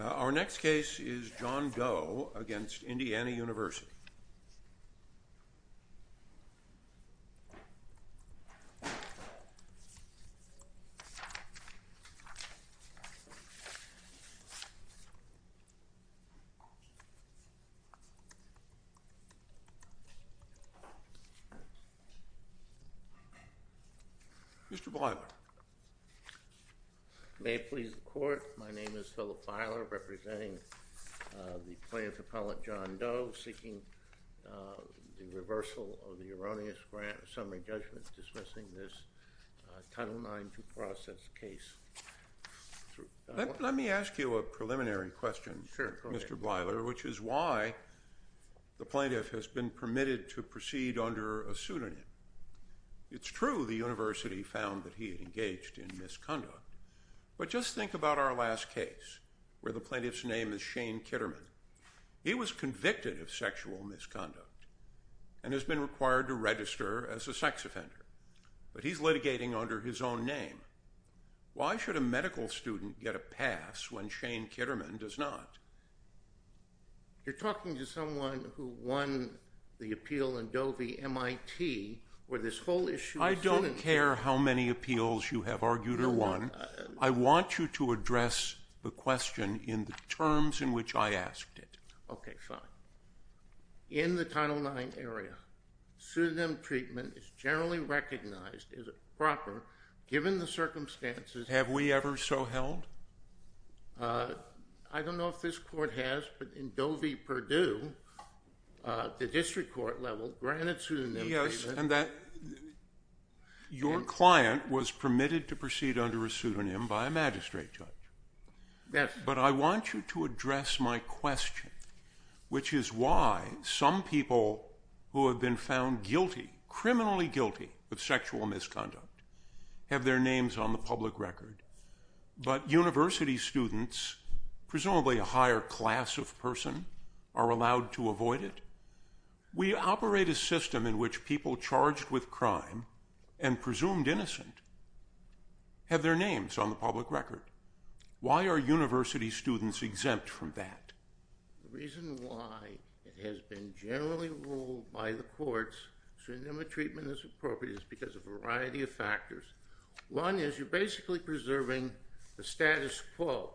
Our next case is John Doe v. Indiana University. Mr. Filer. Let me ask you a preliminary question, Mr. Filer, which is why the plaintiff has been permitted to proceed under a pseudonym. It's true the university found that he had engaged in misconduct, but just think about our last case where the plaintiff's name is Shane Kitterman. He was convicted of sexual misconduct and has been required to register as a sex offender, but he's litigating under his own name. Why should a medical student get a pass when Shane Kitterman does not? You're talking to someone who won the appeal in Doe v. MIT where this whole issue of pseudonyms... I don't care how many appeals you have argued or won. I want you to address the question in the terms in which I asked it. Okay, fine. In the Title IX area, pseudonym treatment is generally recognized as proper given the circumstances... Have we ever so held? I don't know if this court has, but in Doe v. Purdue, the district court level granted pseudonym treatment... Yes, and your client was permitted to proceed under a pseudonym by a magistrate judge. Yes. But I want you to address my question, which is why some people who have been found guilty, criminally guilty, of sexual misconduct have their names on the public record. But university students, presumably a higher class of person, are allowed to avoid it? We operate a system in which people charged with crime and presumed innocent have their names on the public record. Why are university students exempt from that? The reason why it has been generally ruled by the courts pseudonym treatment is appropriate is because of a variety of factors. One is you're basically preserving the status quo.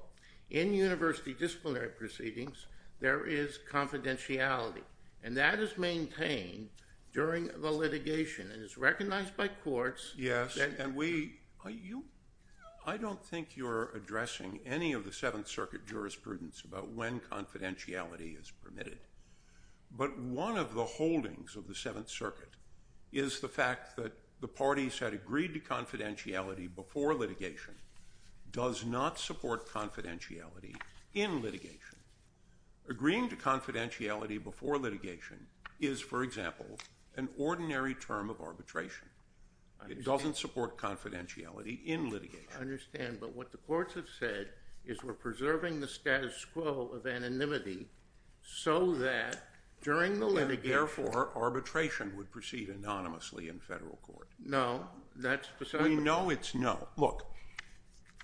In university disciplinary proceedings, there is confidentiality, and that is maintained during the litigation. It is recognized by courts... Yes, and I don't think you're addressing any of the Seventh Circuit jurisprudence about when confidentiality is permitted. But one of the holdings of the Seventh Circuit is the fact that the parties had agreed to confidentiality before litigation does not support confidentiality in litigation. Agreeing to confidentiality before litigation is, for example, an ordinary term of arbitration. It doesn't support confidentiality in litigation. I understand, but what the courts have said is we're preserving the status quo of anonymity so that during the litigation... Therefore, arbitration would proceed anonymously in federal court. No, that's precisely... We know it's no. Look,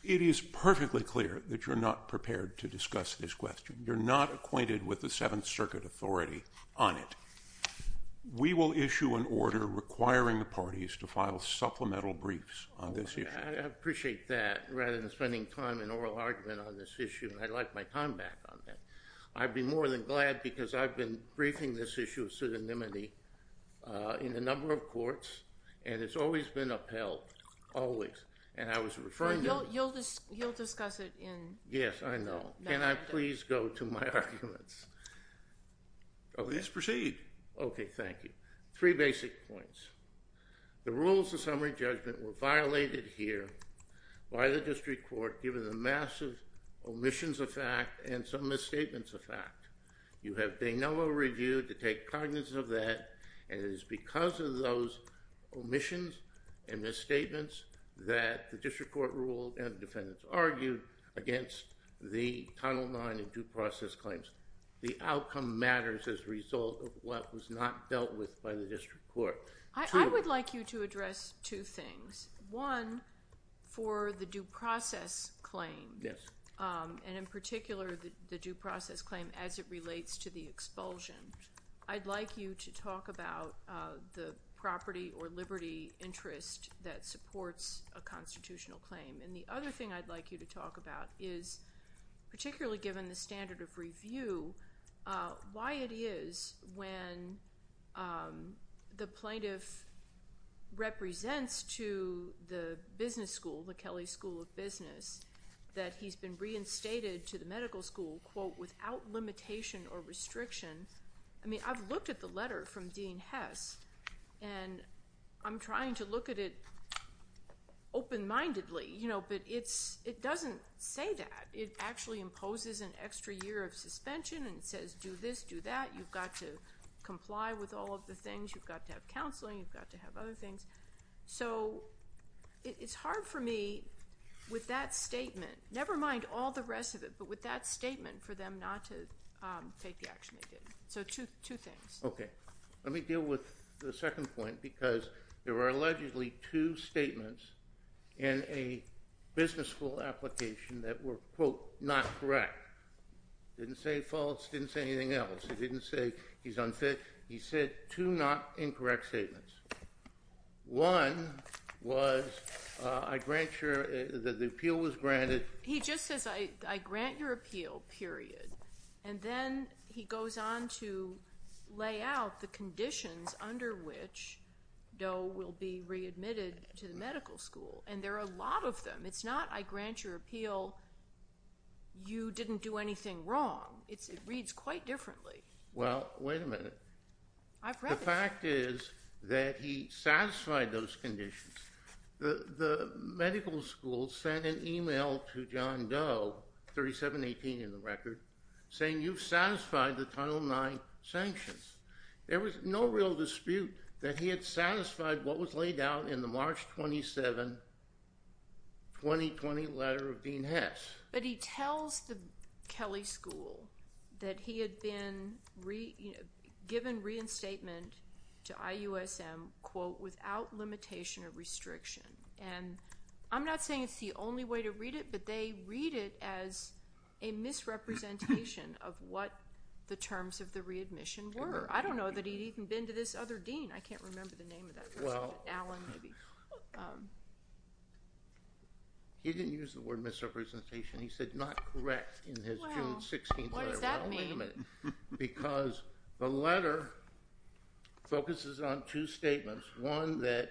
it is perfectly clear that you're not prepared to discuss this question. You're not acquainted with the Seventh Circuit authority on it. We will issue an order requiring the parties to file supplemental briefs on this issue. I appreciate that, rather than spending time in oral argument on this issue. I'd like my time back on that. I'd be more than glad because I've been briefing this issue of pseudonymity in a number of courts, and it's always been upheld, always. And I was referring to... You'll discuss it in... Yes, I know. Can I please go to my arguments? Please proceed. Okay, thank you. Three basic points. The rules of summary judgment were violated here by the district court given the massive omissions of fact and some misstatements of fact. You have de novo reviewed to take cognizance of that, and it is because of those omissions and misstatements that the district court ruled and the defendants argued against the Title IX and due process claims. The outcome matters as a result of what was not dealt with by the district court. I would like you to address two things. One, for the due process claim. Yes. And in particular, the due process claim as it relates to the expulsion. I'd like you to talk about the property or liberty interest that supports a constitutional claim. And the other thing I'd like you to talk about is, particularly given the standard of review, why it is when the plaintiff represents to the business school, the Kelly School of Business, that he's been reinstated to the medical school, quote, without limitation or restriction. I mean, I've looked at the letter from Dean Hess, and I'm trying to look at it open-mindedly, but it doesn't say that. It actually imposes an extra year of suspension and says, do this, do that. You've got to comply with all of the things. You've got to have counseling. You've got to have other things. So it's hard for me with that statement, never mind all the rest of it, but with that statement for them not to take the action they did. So two things. Okay. Let me deal with the second point, because there were allegedly two statements in a business school application that were, quote, not correct. Didn't say false. Didn't say anything else. It didn't say he's unfit. He said two not incorrect statements. One was, I grant your – the appeal was granted. He just says, I grant your appeal, period, and then he goes on to lay out the conditions under which Doe will be readmitted to the medical school, and there are a lot of them. It's not, I grant your appeal, you didn't do anything wrong. It reads quite differently. Well, wait a minute. I've read this. The fact is that he satisfied those conditions. The medical school sent an email to John Doe, 3718 in the record, saying you've satisfied the Title IX sanctions. There was no real dispute that he had satisfied what was laid out in the March 27, 2020 letter of Dean Hess. But he tells the Kelly School that he had been given reinstatement to IUSM, quote, without limitation or restriction. And I'm not saying it's the only way to read it, but they read it as a misrepresentation of what the terms of the readmission were. I don't know that he'd even been to this other dean. I can't remember the name of that person, but Allen maybe. He didn't use the word misrepresentation. He said not correct in his June 16th letter. What does that mean? Because the letter focuses on two statements, one that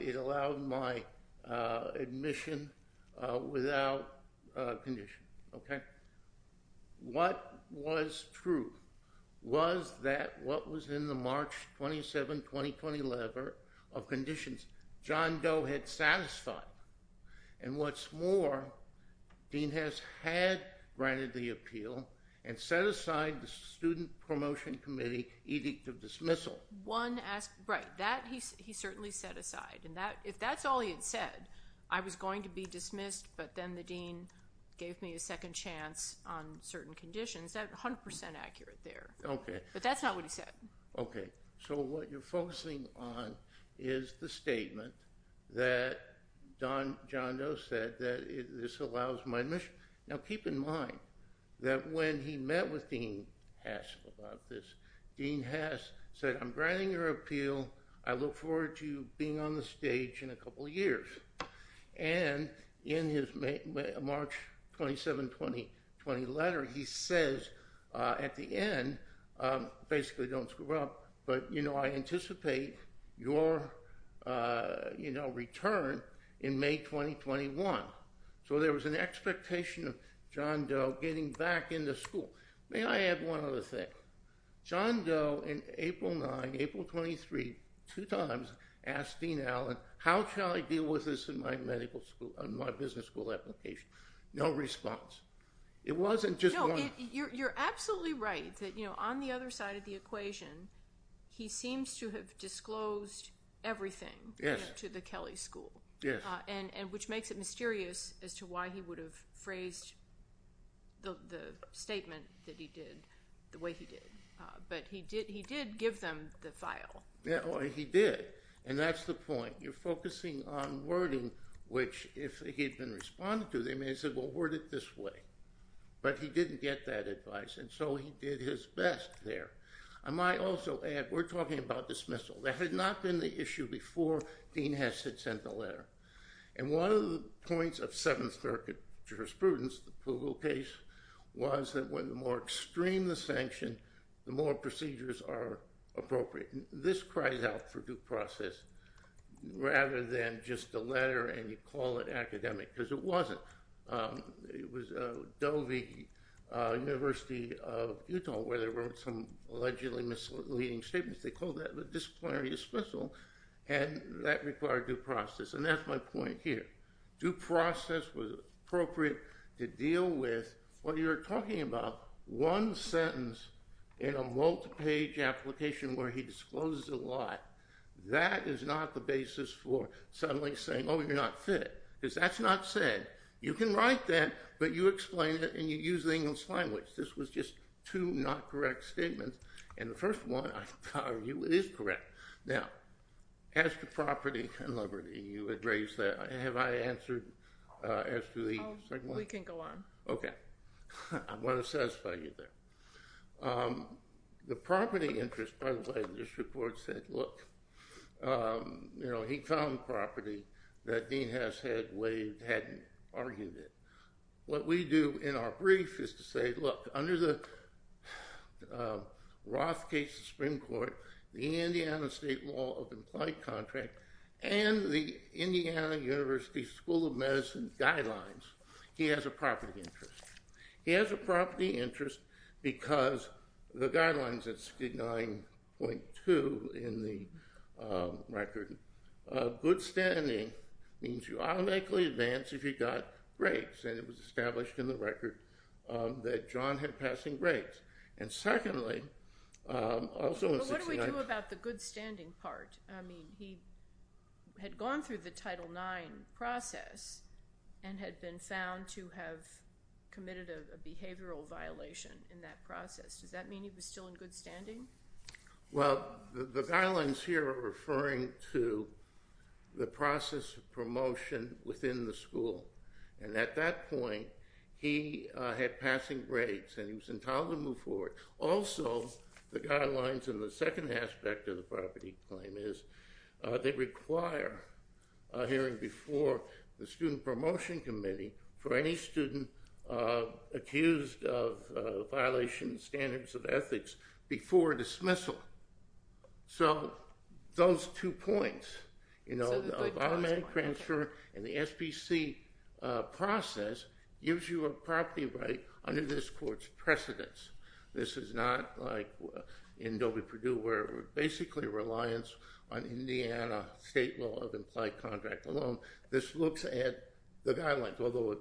it allowed my admission without condition. Okay? What was true? Was that what was in the March 27, 2020 letter of conditions John Doe had satisfied? And what's more, Dean Hess had granted the appeal and set aside the Student Promotion Committee edict of dismissal. Right. He certainly set aside. And if that's all he had said, I was going to be dismissed, but then the dean gave me a second chance on certain conditions. That's 100% accurate there. Okay. But that's not what he said. Okay. So what you're focusing on is the statement that John Doe said that this allows my admission. Now, keep in mind that when he met with Dean Hess about this, Dean Hess said, I'm granting your appeal. I look forward to being on the stage in a couple of years. And in his March 27, 2020 letter, he says at the end, basically don't screw up, but, you know, I anticipate your, you know, return in May 2021. So there was an expectation of John Doe getting back into school. May I add one other thing? John Doe in April 9, April 23, two times asked Dean Allen, how shall I deal with this in my medical school, in my business school application? No response. It wasn't just one. No, you're absolutely right that, you know, on the other side of the equation, he seems to have disclosed everything to the Kelly School. Yes. And which makes it mysterious as to why he would have phrased the statement that he did the way he did. But he did give them the file. Yeah, he did. And that's the point. You're focusing on wording, which if he had been responded to, they may have said, well, word it this way. But he didn't get that advice. And so he did his best there. I might also add, we're talking about dismissal. There had not been the issue before Dean Hess had sent the letter. And one of the points of Seventh Circuit jurisprudence, the Pugel case, was that the more extreme the sanction, the more procedures are appropriate. And this cries out for due process rather than just a letter and you call it academic, because it wasn't. It was Dovey University of Utah, where there were some allegedly misleading statements. They called that a disciplinary dismissal. And that required due process. And that's my point here. Due process was appropriate to deal with what you're talking about. One sentence in a multi-page application where he discloses a lot, that is not the basis for suddenly saying, oh, you're not fit. Because that's not said. You can write that, but you explain it and you use the English language. This was just two not correct statements. And the first one, I can tell you, it is correct. Now, as to property and liberty, you had raised that. Have I answered as to the second one? Oh, we can go on. Okay. I want to satisfy you there. The property interest, by the way, in this report said, look, you know, he found property that Dean has had waived, hadn't argued it. What we do in our brief is to say, look, under the Rothcase Supreme Court, the Indiana state law of implied contract, and the Indiana University School of Medicine guidelines, he has a property interest. He has a property interest because the guidelines at 69.2 in the record, good standing means you automatically advance if you've got breaks. And it was established in the record that John had passing breaks. And secondly, also in 69. But what do we do about the good standing part? I mean, he had gone through the Title IX process and had been found to have committed a behavioral violation in that process. Does that mean he was still in good standing? Well, the guidelines here are referring to the process of promotion within the school. And at that point, he had passing breaks, and he was entitled to move forward. Also, the guidelines in the second aspect of the property claim is they require a hearing before the Student Promotion Committee for any student accused of violation of standards of ethics before dismissal. So those two points, you know, the automatic transfer and the SPC process gives you a property right under this court's precedence. This is not like in Doby-Perdue where we're basically reliant on Indiana state law of implied contract alone. This looks at the guidelines, although it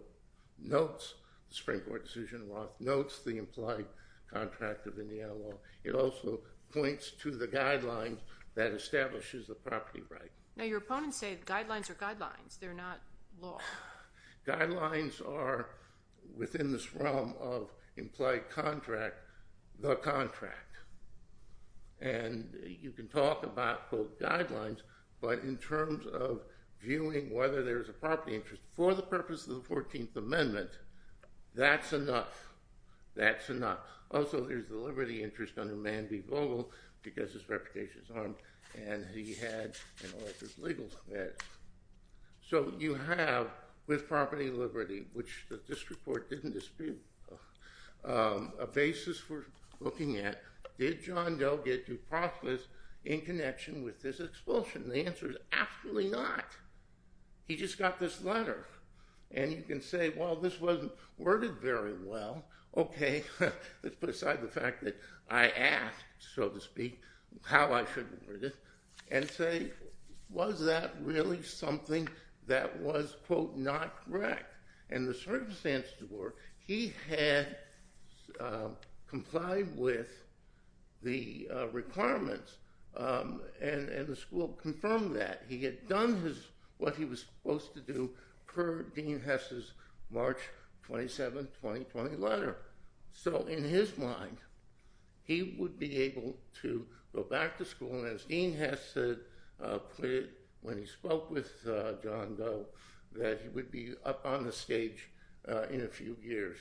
notes the Supreme Court decision, Roth notes the implied contract of Indiana law. It also points to the guidelines that establishes the property right. Now, your opponents say guidelines are guidelines. They're not law. Guidelines are, within this realm of implied contract, the contract. And you can talk about, quote, guidelines, but in terms of viewing whether there's a property interest for the purpose of the 14th Amendment, that's enough. That's enough. Also, there's the liberty interest under Man v. Vogel because his reputation is harmed, and he had, you know, his legal status. So you have, with property liberty, which the district court didn't dispute, a basis for looking at, did John Doe get to prosperous in connection with this expulsion? The answer is absolutely not. He just got this letter. And you can say, well, this wasn't worded very well. Let's put aside the fact that I asked, so to speak, how I should read it and say, was that really something that was, quote, not correct? And the circumstances were he had complied with the requirements, and the school confirmed that. And he had done what he was supposed to do per Dean Hess's March 27, 2020 letter. So in his mind, he would be able to go back to school, and as Dean Hess said when he spoke with John Doe, that he would be up on the stage in a few years.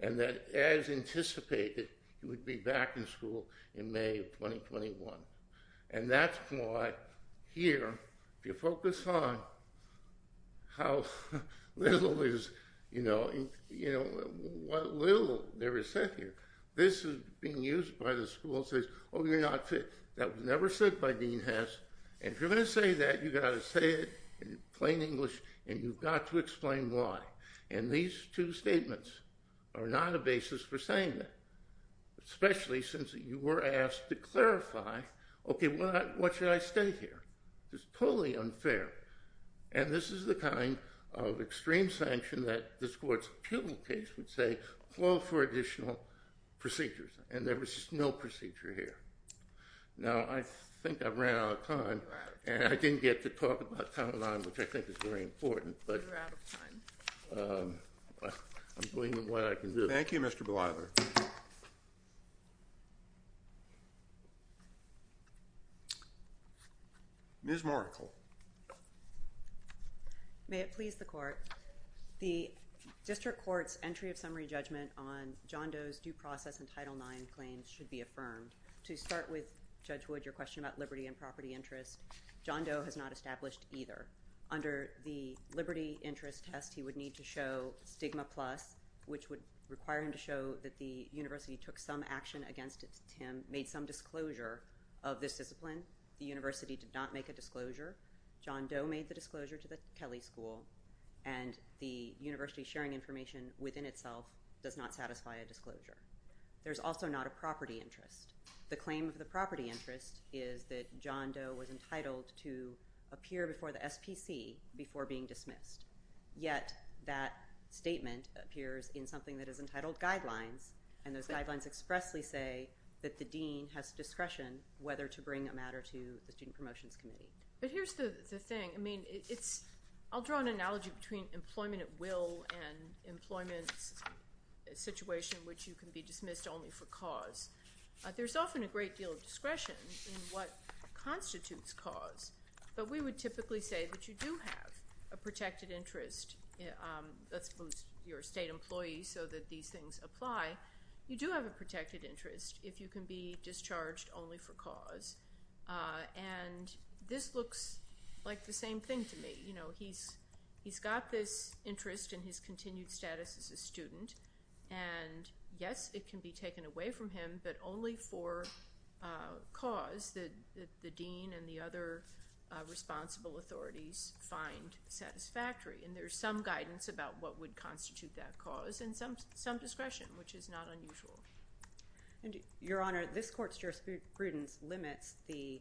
And that as anticipated, he would be back in school in May of 2021. And that's why here, if you focus on how little is, you know, what little there is said here, this is being used by the school and says, oh, you're not fit. That was never said by Dean Hess. And if you're going to say that, you've got to say it in plain English, and you've got to explain why. And these two statements are not a basis for saying that, especially since you were asked to clarify, okay, what should I state here? It's totally unfair. And this is the kind of extreme sanction that this court's pubic case would say, call for additional procedures. And there was just no procedure here. Now, I think I've ran out of time. And I didn't get to talk about Title IX, which I think is very important, but I'm doing what I can do. Thank you, Mr. Blyler. Ms. Markle. May it please the court. The district court's entry of summary judgment on John Doe's due process and Title IX claims should be affirmed. To start with, Judge Wood, your question about liberty and property interest, John Doe has not established either. Under the liberty interest test, he would need to show stigma plus, which would require him to show that the university took some action against him, made some disclosure of this discipline. The university did not make a disclosure. John Doe made the disclosure to the Kelley School. And the university sharing information within itself does not satisfy a disclosure. There's also not a property interest. The claim of the property interest is that John Doe was entitled to appear before the SPC before being dismissed. Yet, that statement appears in something that is entitled guidelines. And those guidelines expressly say that the dean has discretion whether to bring a matter to the Student Promotions Committee. But here's the thing. I mean, it's ‑‑ I'll draw an analogy between employment at will and employment situation in which you can be dismissed only for cause. There's often a great deal of discretion in what constitutes cause. But we would typically say that you do have a protected interest. Let's suppose you're a state employee so that these things apply. You do have a protected interest if you can be discharged only for cause. And this looks like the same thing to me. You know, he's got this interest in his continued status as a student. And, yes, it can be taken away from him, but only for cause that the dean and the other responsible authorities find satisfactory. And there's some guidance about what would constitute that cause and some discretion, which is not unusual. Your Honor, this court's jurisprudence limits the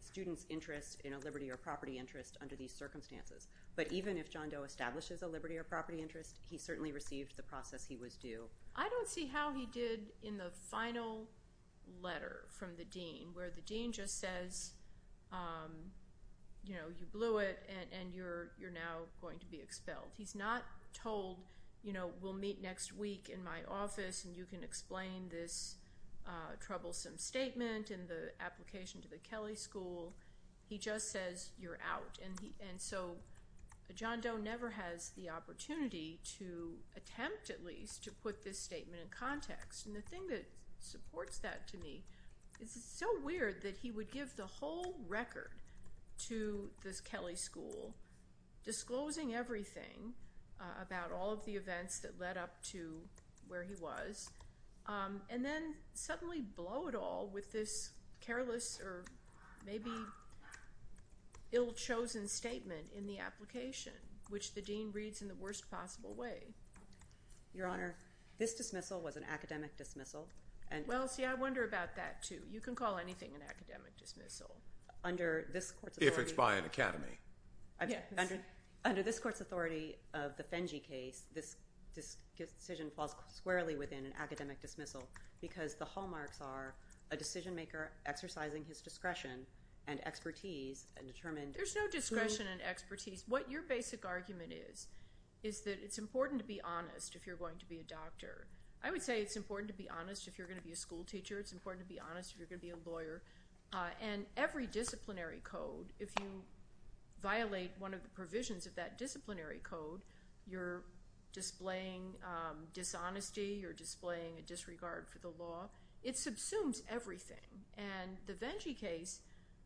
student's interest in a liberty or property interest under these circumstances. But even if John Doe establishes a liberty or property interest, he certainly received the process he was due. I don't see how he did in the final letter from the dean where the dean just says, you know, you blew it and you're now going to be expelled. He's not told, you know, we'll meet next week in my office and you can explain this troublesome statement in the application to the Kelly School. He just says you're out. And so John Doe never has the opportunity to attempt at least to put this statement in context. And the thing that supports that to me is it's so weird that he would give the whole record to the Kelly School, disclosing everything about all of the events that led up to where he was, and then suddenly blow it all with this careless or maybe ill-chosen statement in the application, which the dean reads in the worst possible way. Your Honor, this dismissal was an academic dismissal. Well, see, I wonder about that, too. You can call anything an academic dismissal. If it's by an academy. Under this Court's authority of the Fenge case, this decision falls squarely within an academic dismissal because the hallmarks are a decision maker exercising his discretion and expertise and determined who— There's no discretion and expertise. What your basic argument is is that it's important to be honest if you're going to be a doctor. I would say it's important to be honest if you're going to be a school teacher. It's important to be honest if you're going to be a lawyer. And every disciplinary code, if you violate one of the provisions of that disciplinary code, you're displaying dishonesty. You're displaying a disregard for the law. It subsumes everything. And the Fenge case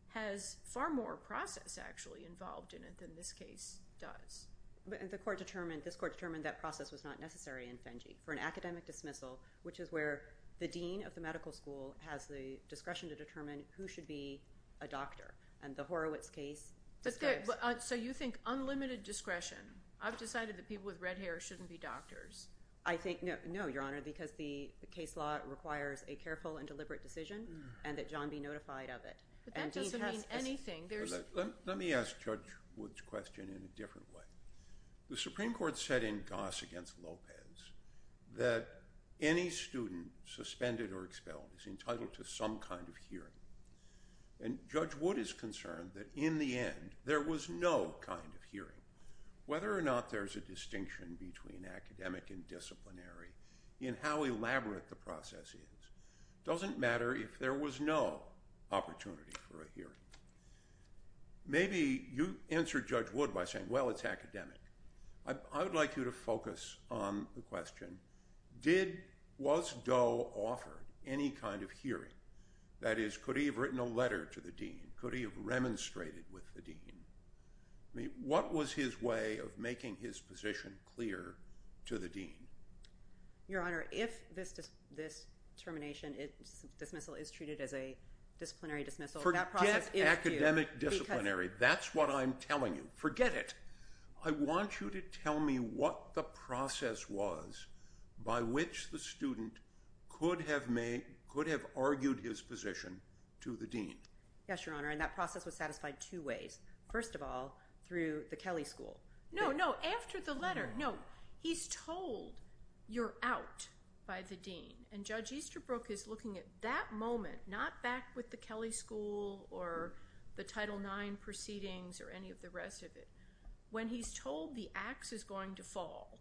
has far more process, actually, involved in it than this case does. But the Court determined—this Court determined that process was not necessary in Fenge for an academic dismissal, which is where the dean of the medical school has the discretion to determine who should be a doctor. And the Horowitz case describes— So you think unlimited discretion. I've decided that people with red hair shouldn't be doctors. No, Your Honor, because the case law requires a careful and deliberate decision and that John be notified of it. But that doesn't mean anything. Let me ask Judge Wood's question in a different way. The Supreme Court said in Goss v. Lopez that any student suspended or expelled is entitled to some kind of hearing. And Judge Wood is concerned that in the end there was no kind of hearing. Whether or not there's a distinction between academic and disciplinary in how elaborate the process is doesn't matter if there was no opportunity for a hearing. Maybe you answer Judge Wood by saying, well, it's academic. I would like you to focus on the question, did—was Doe offered any kind of hearing? That is, could he have written a letter to the dean? Could he have remonstrated with the dean? I mean, what was his way of making his position clear to the dean? Your Honor, if this termination dismissal is treated as a disciplinary dismissal, that process is due— Forget academic disciplinary. That's what I'm telling you. Forget it. I want you to tell me what the process was by which the student could have made—could have argued his position to the dean. Yes, Your Honor. And that process was satisfied two ways. First of all, through the Kelly School. No, no. After the letter. No. He's told you're out by the dean. And Judge Easterbrook is looking at that moment, not back with the Kelly School or the Title IX proceedings or any of the rest of it. When he's told the axe is going to fall,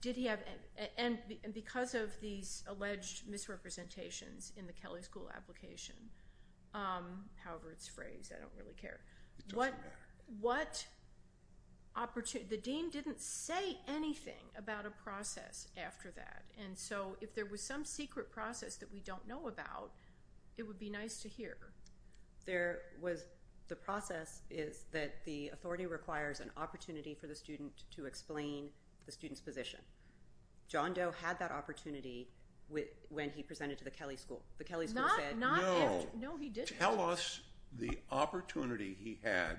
did he have—and because of these alleged misrepresentations in the Kelly School application, however it's phrased, I don't really care. It doesn't matter. What opportunity—the dean didn't say anything about a process after that. And so if there was some secret process that we don't know about, it would be nice to hear. There was—the process is that the authority requires an opportunity for the student to explain the student's position. John Doe had that opportunity when he presented to the Kelly School. The Kelly School said— No. No, he didn't. Tell us the opportunity he had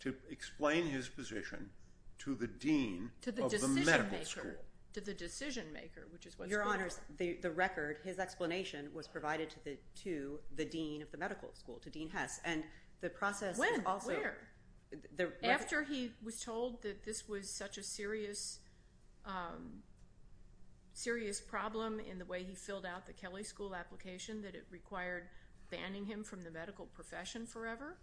to explain his position to the dean of the medical school. Your Honors, the record, his explanation was provided to the dean of the medical school, to Dean Hess. And the process is also— When? Where? After he was told that this was such a serious problem in the way he filled out the Kelly School application that it required banning him from the medical profession forever?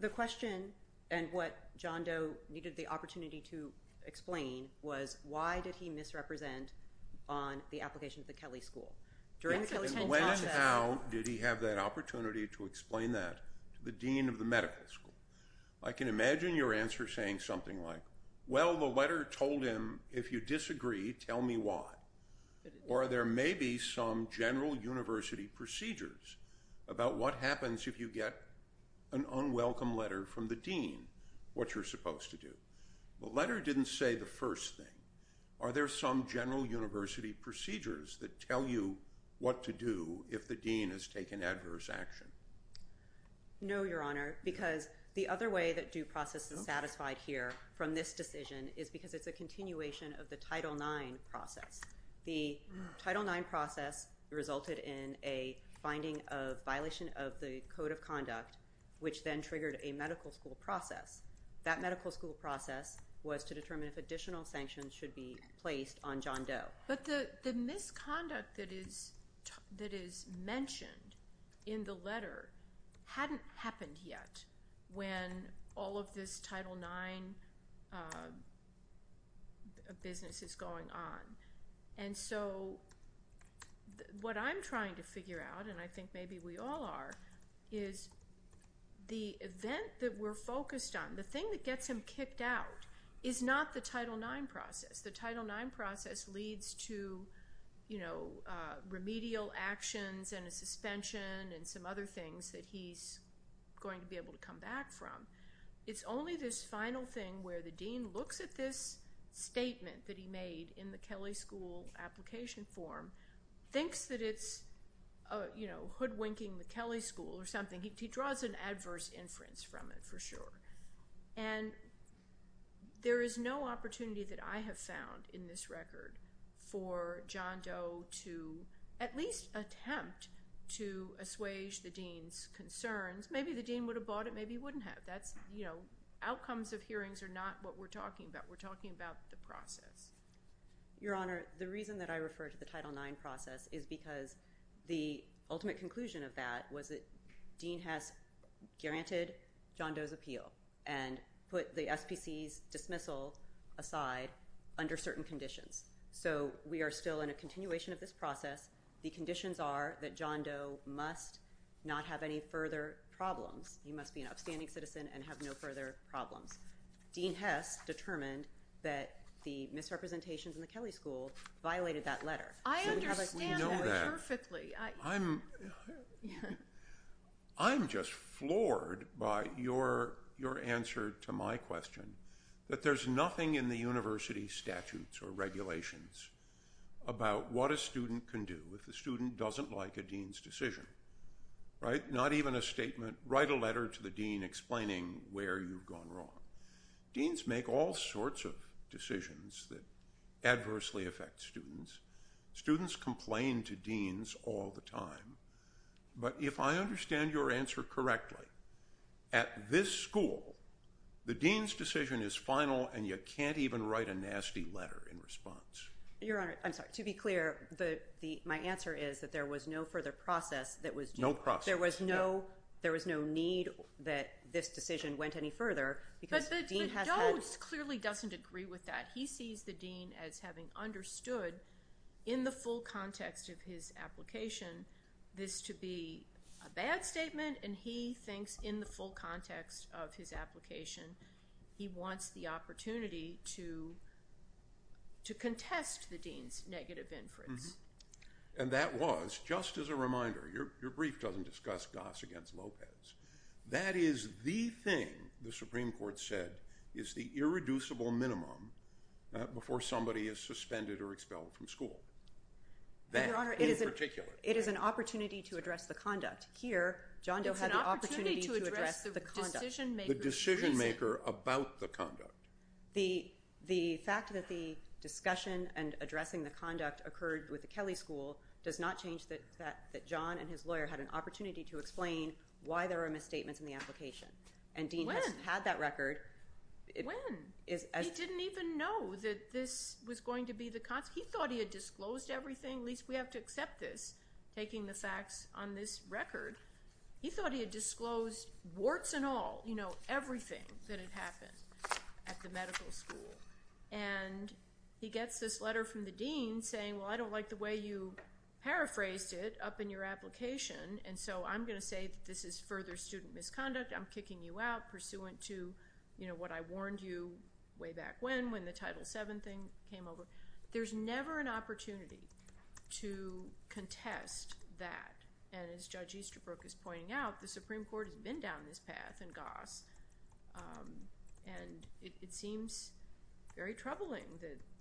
The question, and what John Doe needed the opportunity to explain, was why did he misrepresent on the application to the Kelly School? When and how did he have that opportunity to explain that to the dean of the medical school? I can imagine your answer saying something like, well, the letter told him, if you disagree, tell me why. Or there may be some general university procedures about what happens if you get an unwelcome letter from the dean, what you're supposed to do. The letter didn't say the first thing. Are there some general university procedures that tell you what to do if the dean has taken adverse action? No, Your Honor, because the other way that due process is satisfied here from this decision is because it's a continuation of the Title IX process. The Title IX process resulted in a finding of violation of the Code of Conduct, which then triggered a medical school process. That medical school process was to determine if additional sanctions should be placed on John Doe. But the misconduct that is mentioned in the letter hadn't happened yet when all of this Title IX business is going on. And so what I'm trying to figure out, and I think maybe we all are, is the event that we're focused on, the thing that gets him kicked out, is not the Title IX process. The Title IX process leads to, you know, remedial actions and a suspension and some other things that he's going to be able to come back from. It's only this final thing where the dean looks at this statement that he made in the Kelly School application form, thinks that it's, you know, hoodwinking the Kelly School or something. He draws an adverse inference from it for sure. And there is no opportunity that I have found in this record for John Doe to at least attempt to assuage the dean's concerns. Maybe the dean would have bought it. Maybe he wouldn't have. That's, you know, outcomes of hearings are not what we're talking about. We're talking about the process. Your Honor, the reason that I refer to the Title IX process is because the ultimate conclusion of that was that and put the SPC's dismissal aside under certain conditions. So we are still in a continuation of this process. The conditions are that John Doe must not have any further problems. He must be an upstanding citizen and have no further problems. Dean Hess determined that the misrepresentations in the Kelly School violated that letter. I understand that perfectly. I'm just floored by your answer to my question, that there's nothing in the university statutes or regulations about what a student can do if the student doesn't like a dean's decision, right? Not even a statement, write a letter to the dean explaining where you've gone wrong. Deans make all sorts of decisions that adversely affect students. Students complain to deans all the time. But if I understand your answer correctly, at this school, the dean's decision is final and you can't even write a nasty letter in response. Your Honor, I'm sorry. To be clear, my answer is that there was no further process that was due. No process. There was no need that this decision went any further because the dean has had— But Doe clearly doesn't agree with that. He sees the dean as having understood in the full context of his application this to be a bad statement and he thinks in the full context of his application he wants the opportunity to contest the dean's negative inference. And that was, just as a reminder, your brief doesn't discuss Goss against Lopez. That is the thing the Supreme Court said is the irreducible minimum before somebody is suspended or expelled from school. That, in particular. Your Honor, it is an opportunity to address the conduct. Here, John Doe had the opportunity to address the conduct. It's an opportunity to address the decision-maker's reason. The decision-maker about the conduct. The fact that the discussion and addressing the conduct occurred with the Kelly School does not change that John and his lawyer had an opportunity to explain why there are misstatements in the application. When? And Dean has had that record. When? He didn't even know that this was going to be the—he thought he had disclosed everything. At least we have to accept this, taking the facts on this record. He thought he had disclosed warts and all, you know, everything that had happened at the medical school. And he gets this letter from the dean saying, well, I don't like the way you paraphrased it up in your application, and so I'm going to say that this is further student misconduct. I'm kicking you out pursuant to, you know, what I warned you way back when, when the Title VII thing came over. There's never an opportunity to contest that. And as Judge Easterbrook is pointing out, the Supreme Court has been down this path in Goss, and it seems very troubling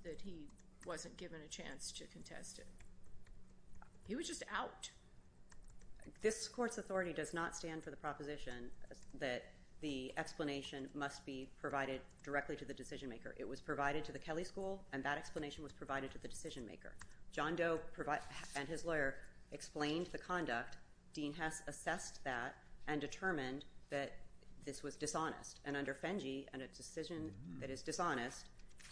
that he wasn't given a chance to contest it. He was just out. This court's authority does not stand for the proposition that the explanation must be provided directly to the decision maker. It was provided to the Kelly School, and that explanation was provided to the decision maker. But Dean Hess assessed that and determined that this was dishonest. And under FENGI, a decision that is dishonest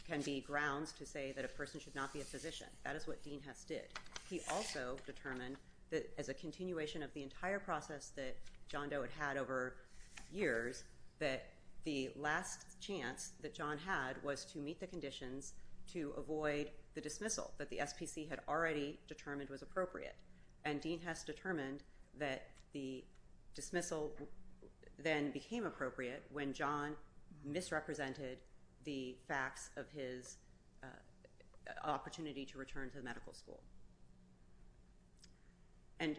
can be grounds to say that a person should not be a physician. That is what Dean Hess did. He also determined that as a continuation of the entire process that John Doe had had over years, that the last chance that John had was to meet the conditions to avoid the dismissal that the SPC had already determined was appropriate. And Dean Hess determined that the dismissal then became appropriate when John misrepresented the facts of his opportunity to return to the medical school. And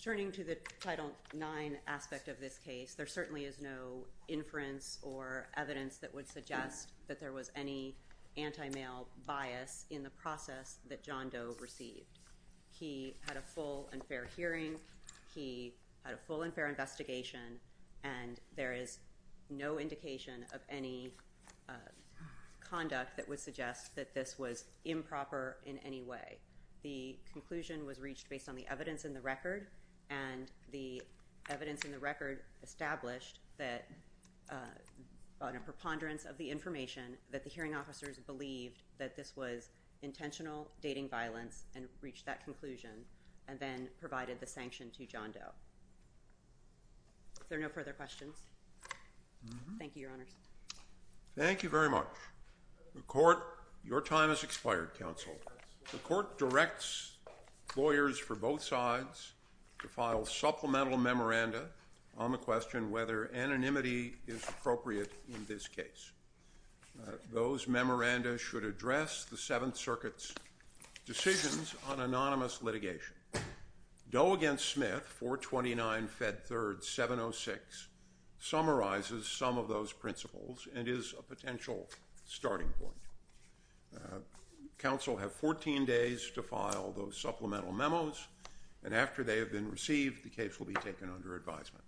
turning to the Title IX aspect of this case, there certainly is no inference or evidence that would suggest that there was any anti-male bias in the process that John Doe received. He had a full and fair hearing. He had a full and fair investigation. And there is no indication of any conduct that would suggest that this was improper in any way. The conclusion was reached based on the evidence in the record, and the evidence in the record established that on a preponderance of the information, that the hearing officers believed that this was intentional dating violence and reached that conclusion, and then provided the sanction to John Doe. Is there no further questions? Thank you, Your Honors. Thank you very much. Your time has expired, counsel. The court directs lawyers for both sides to file supplemental memoranda on the question whether anonymity is appropriate in this case. Those memoranda should address the Seventh Circuit's decisions on anonymous litigation. Doe v. Smith, 429 Fed 3rd 706, summarizes some of those principles and is a potential starting point. Counsel have 14 days to file those supplemental memos, and after they have been received, the case will be taken under advisement.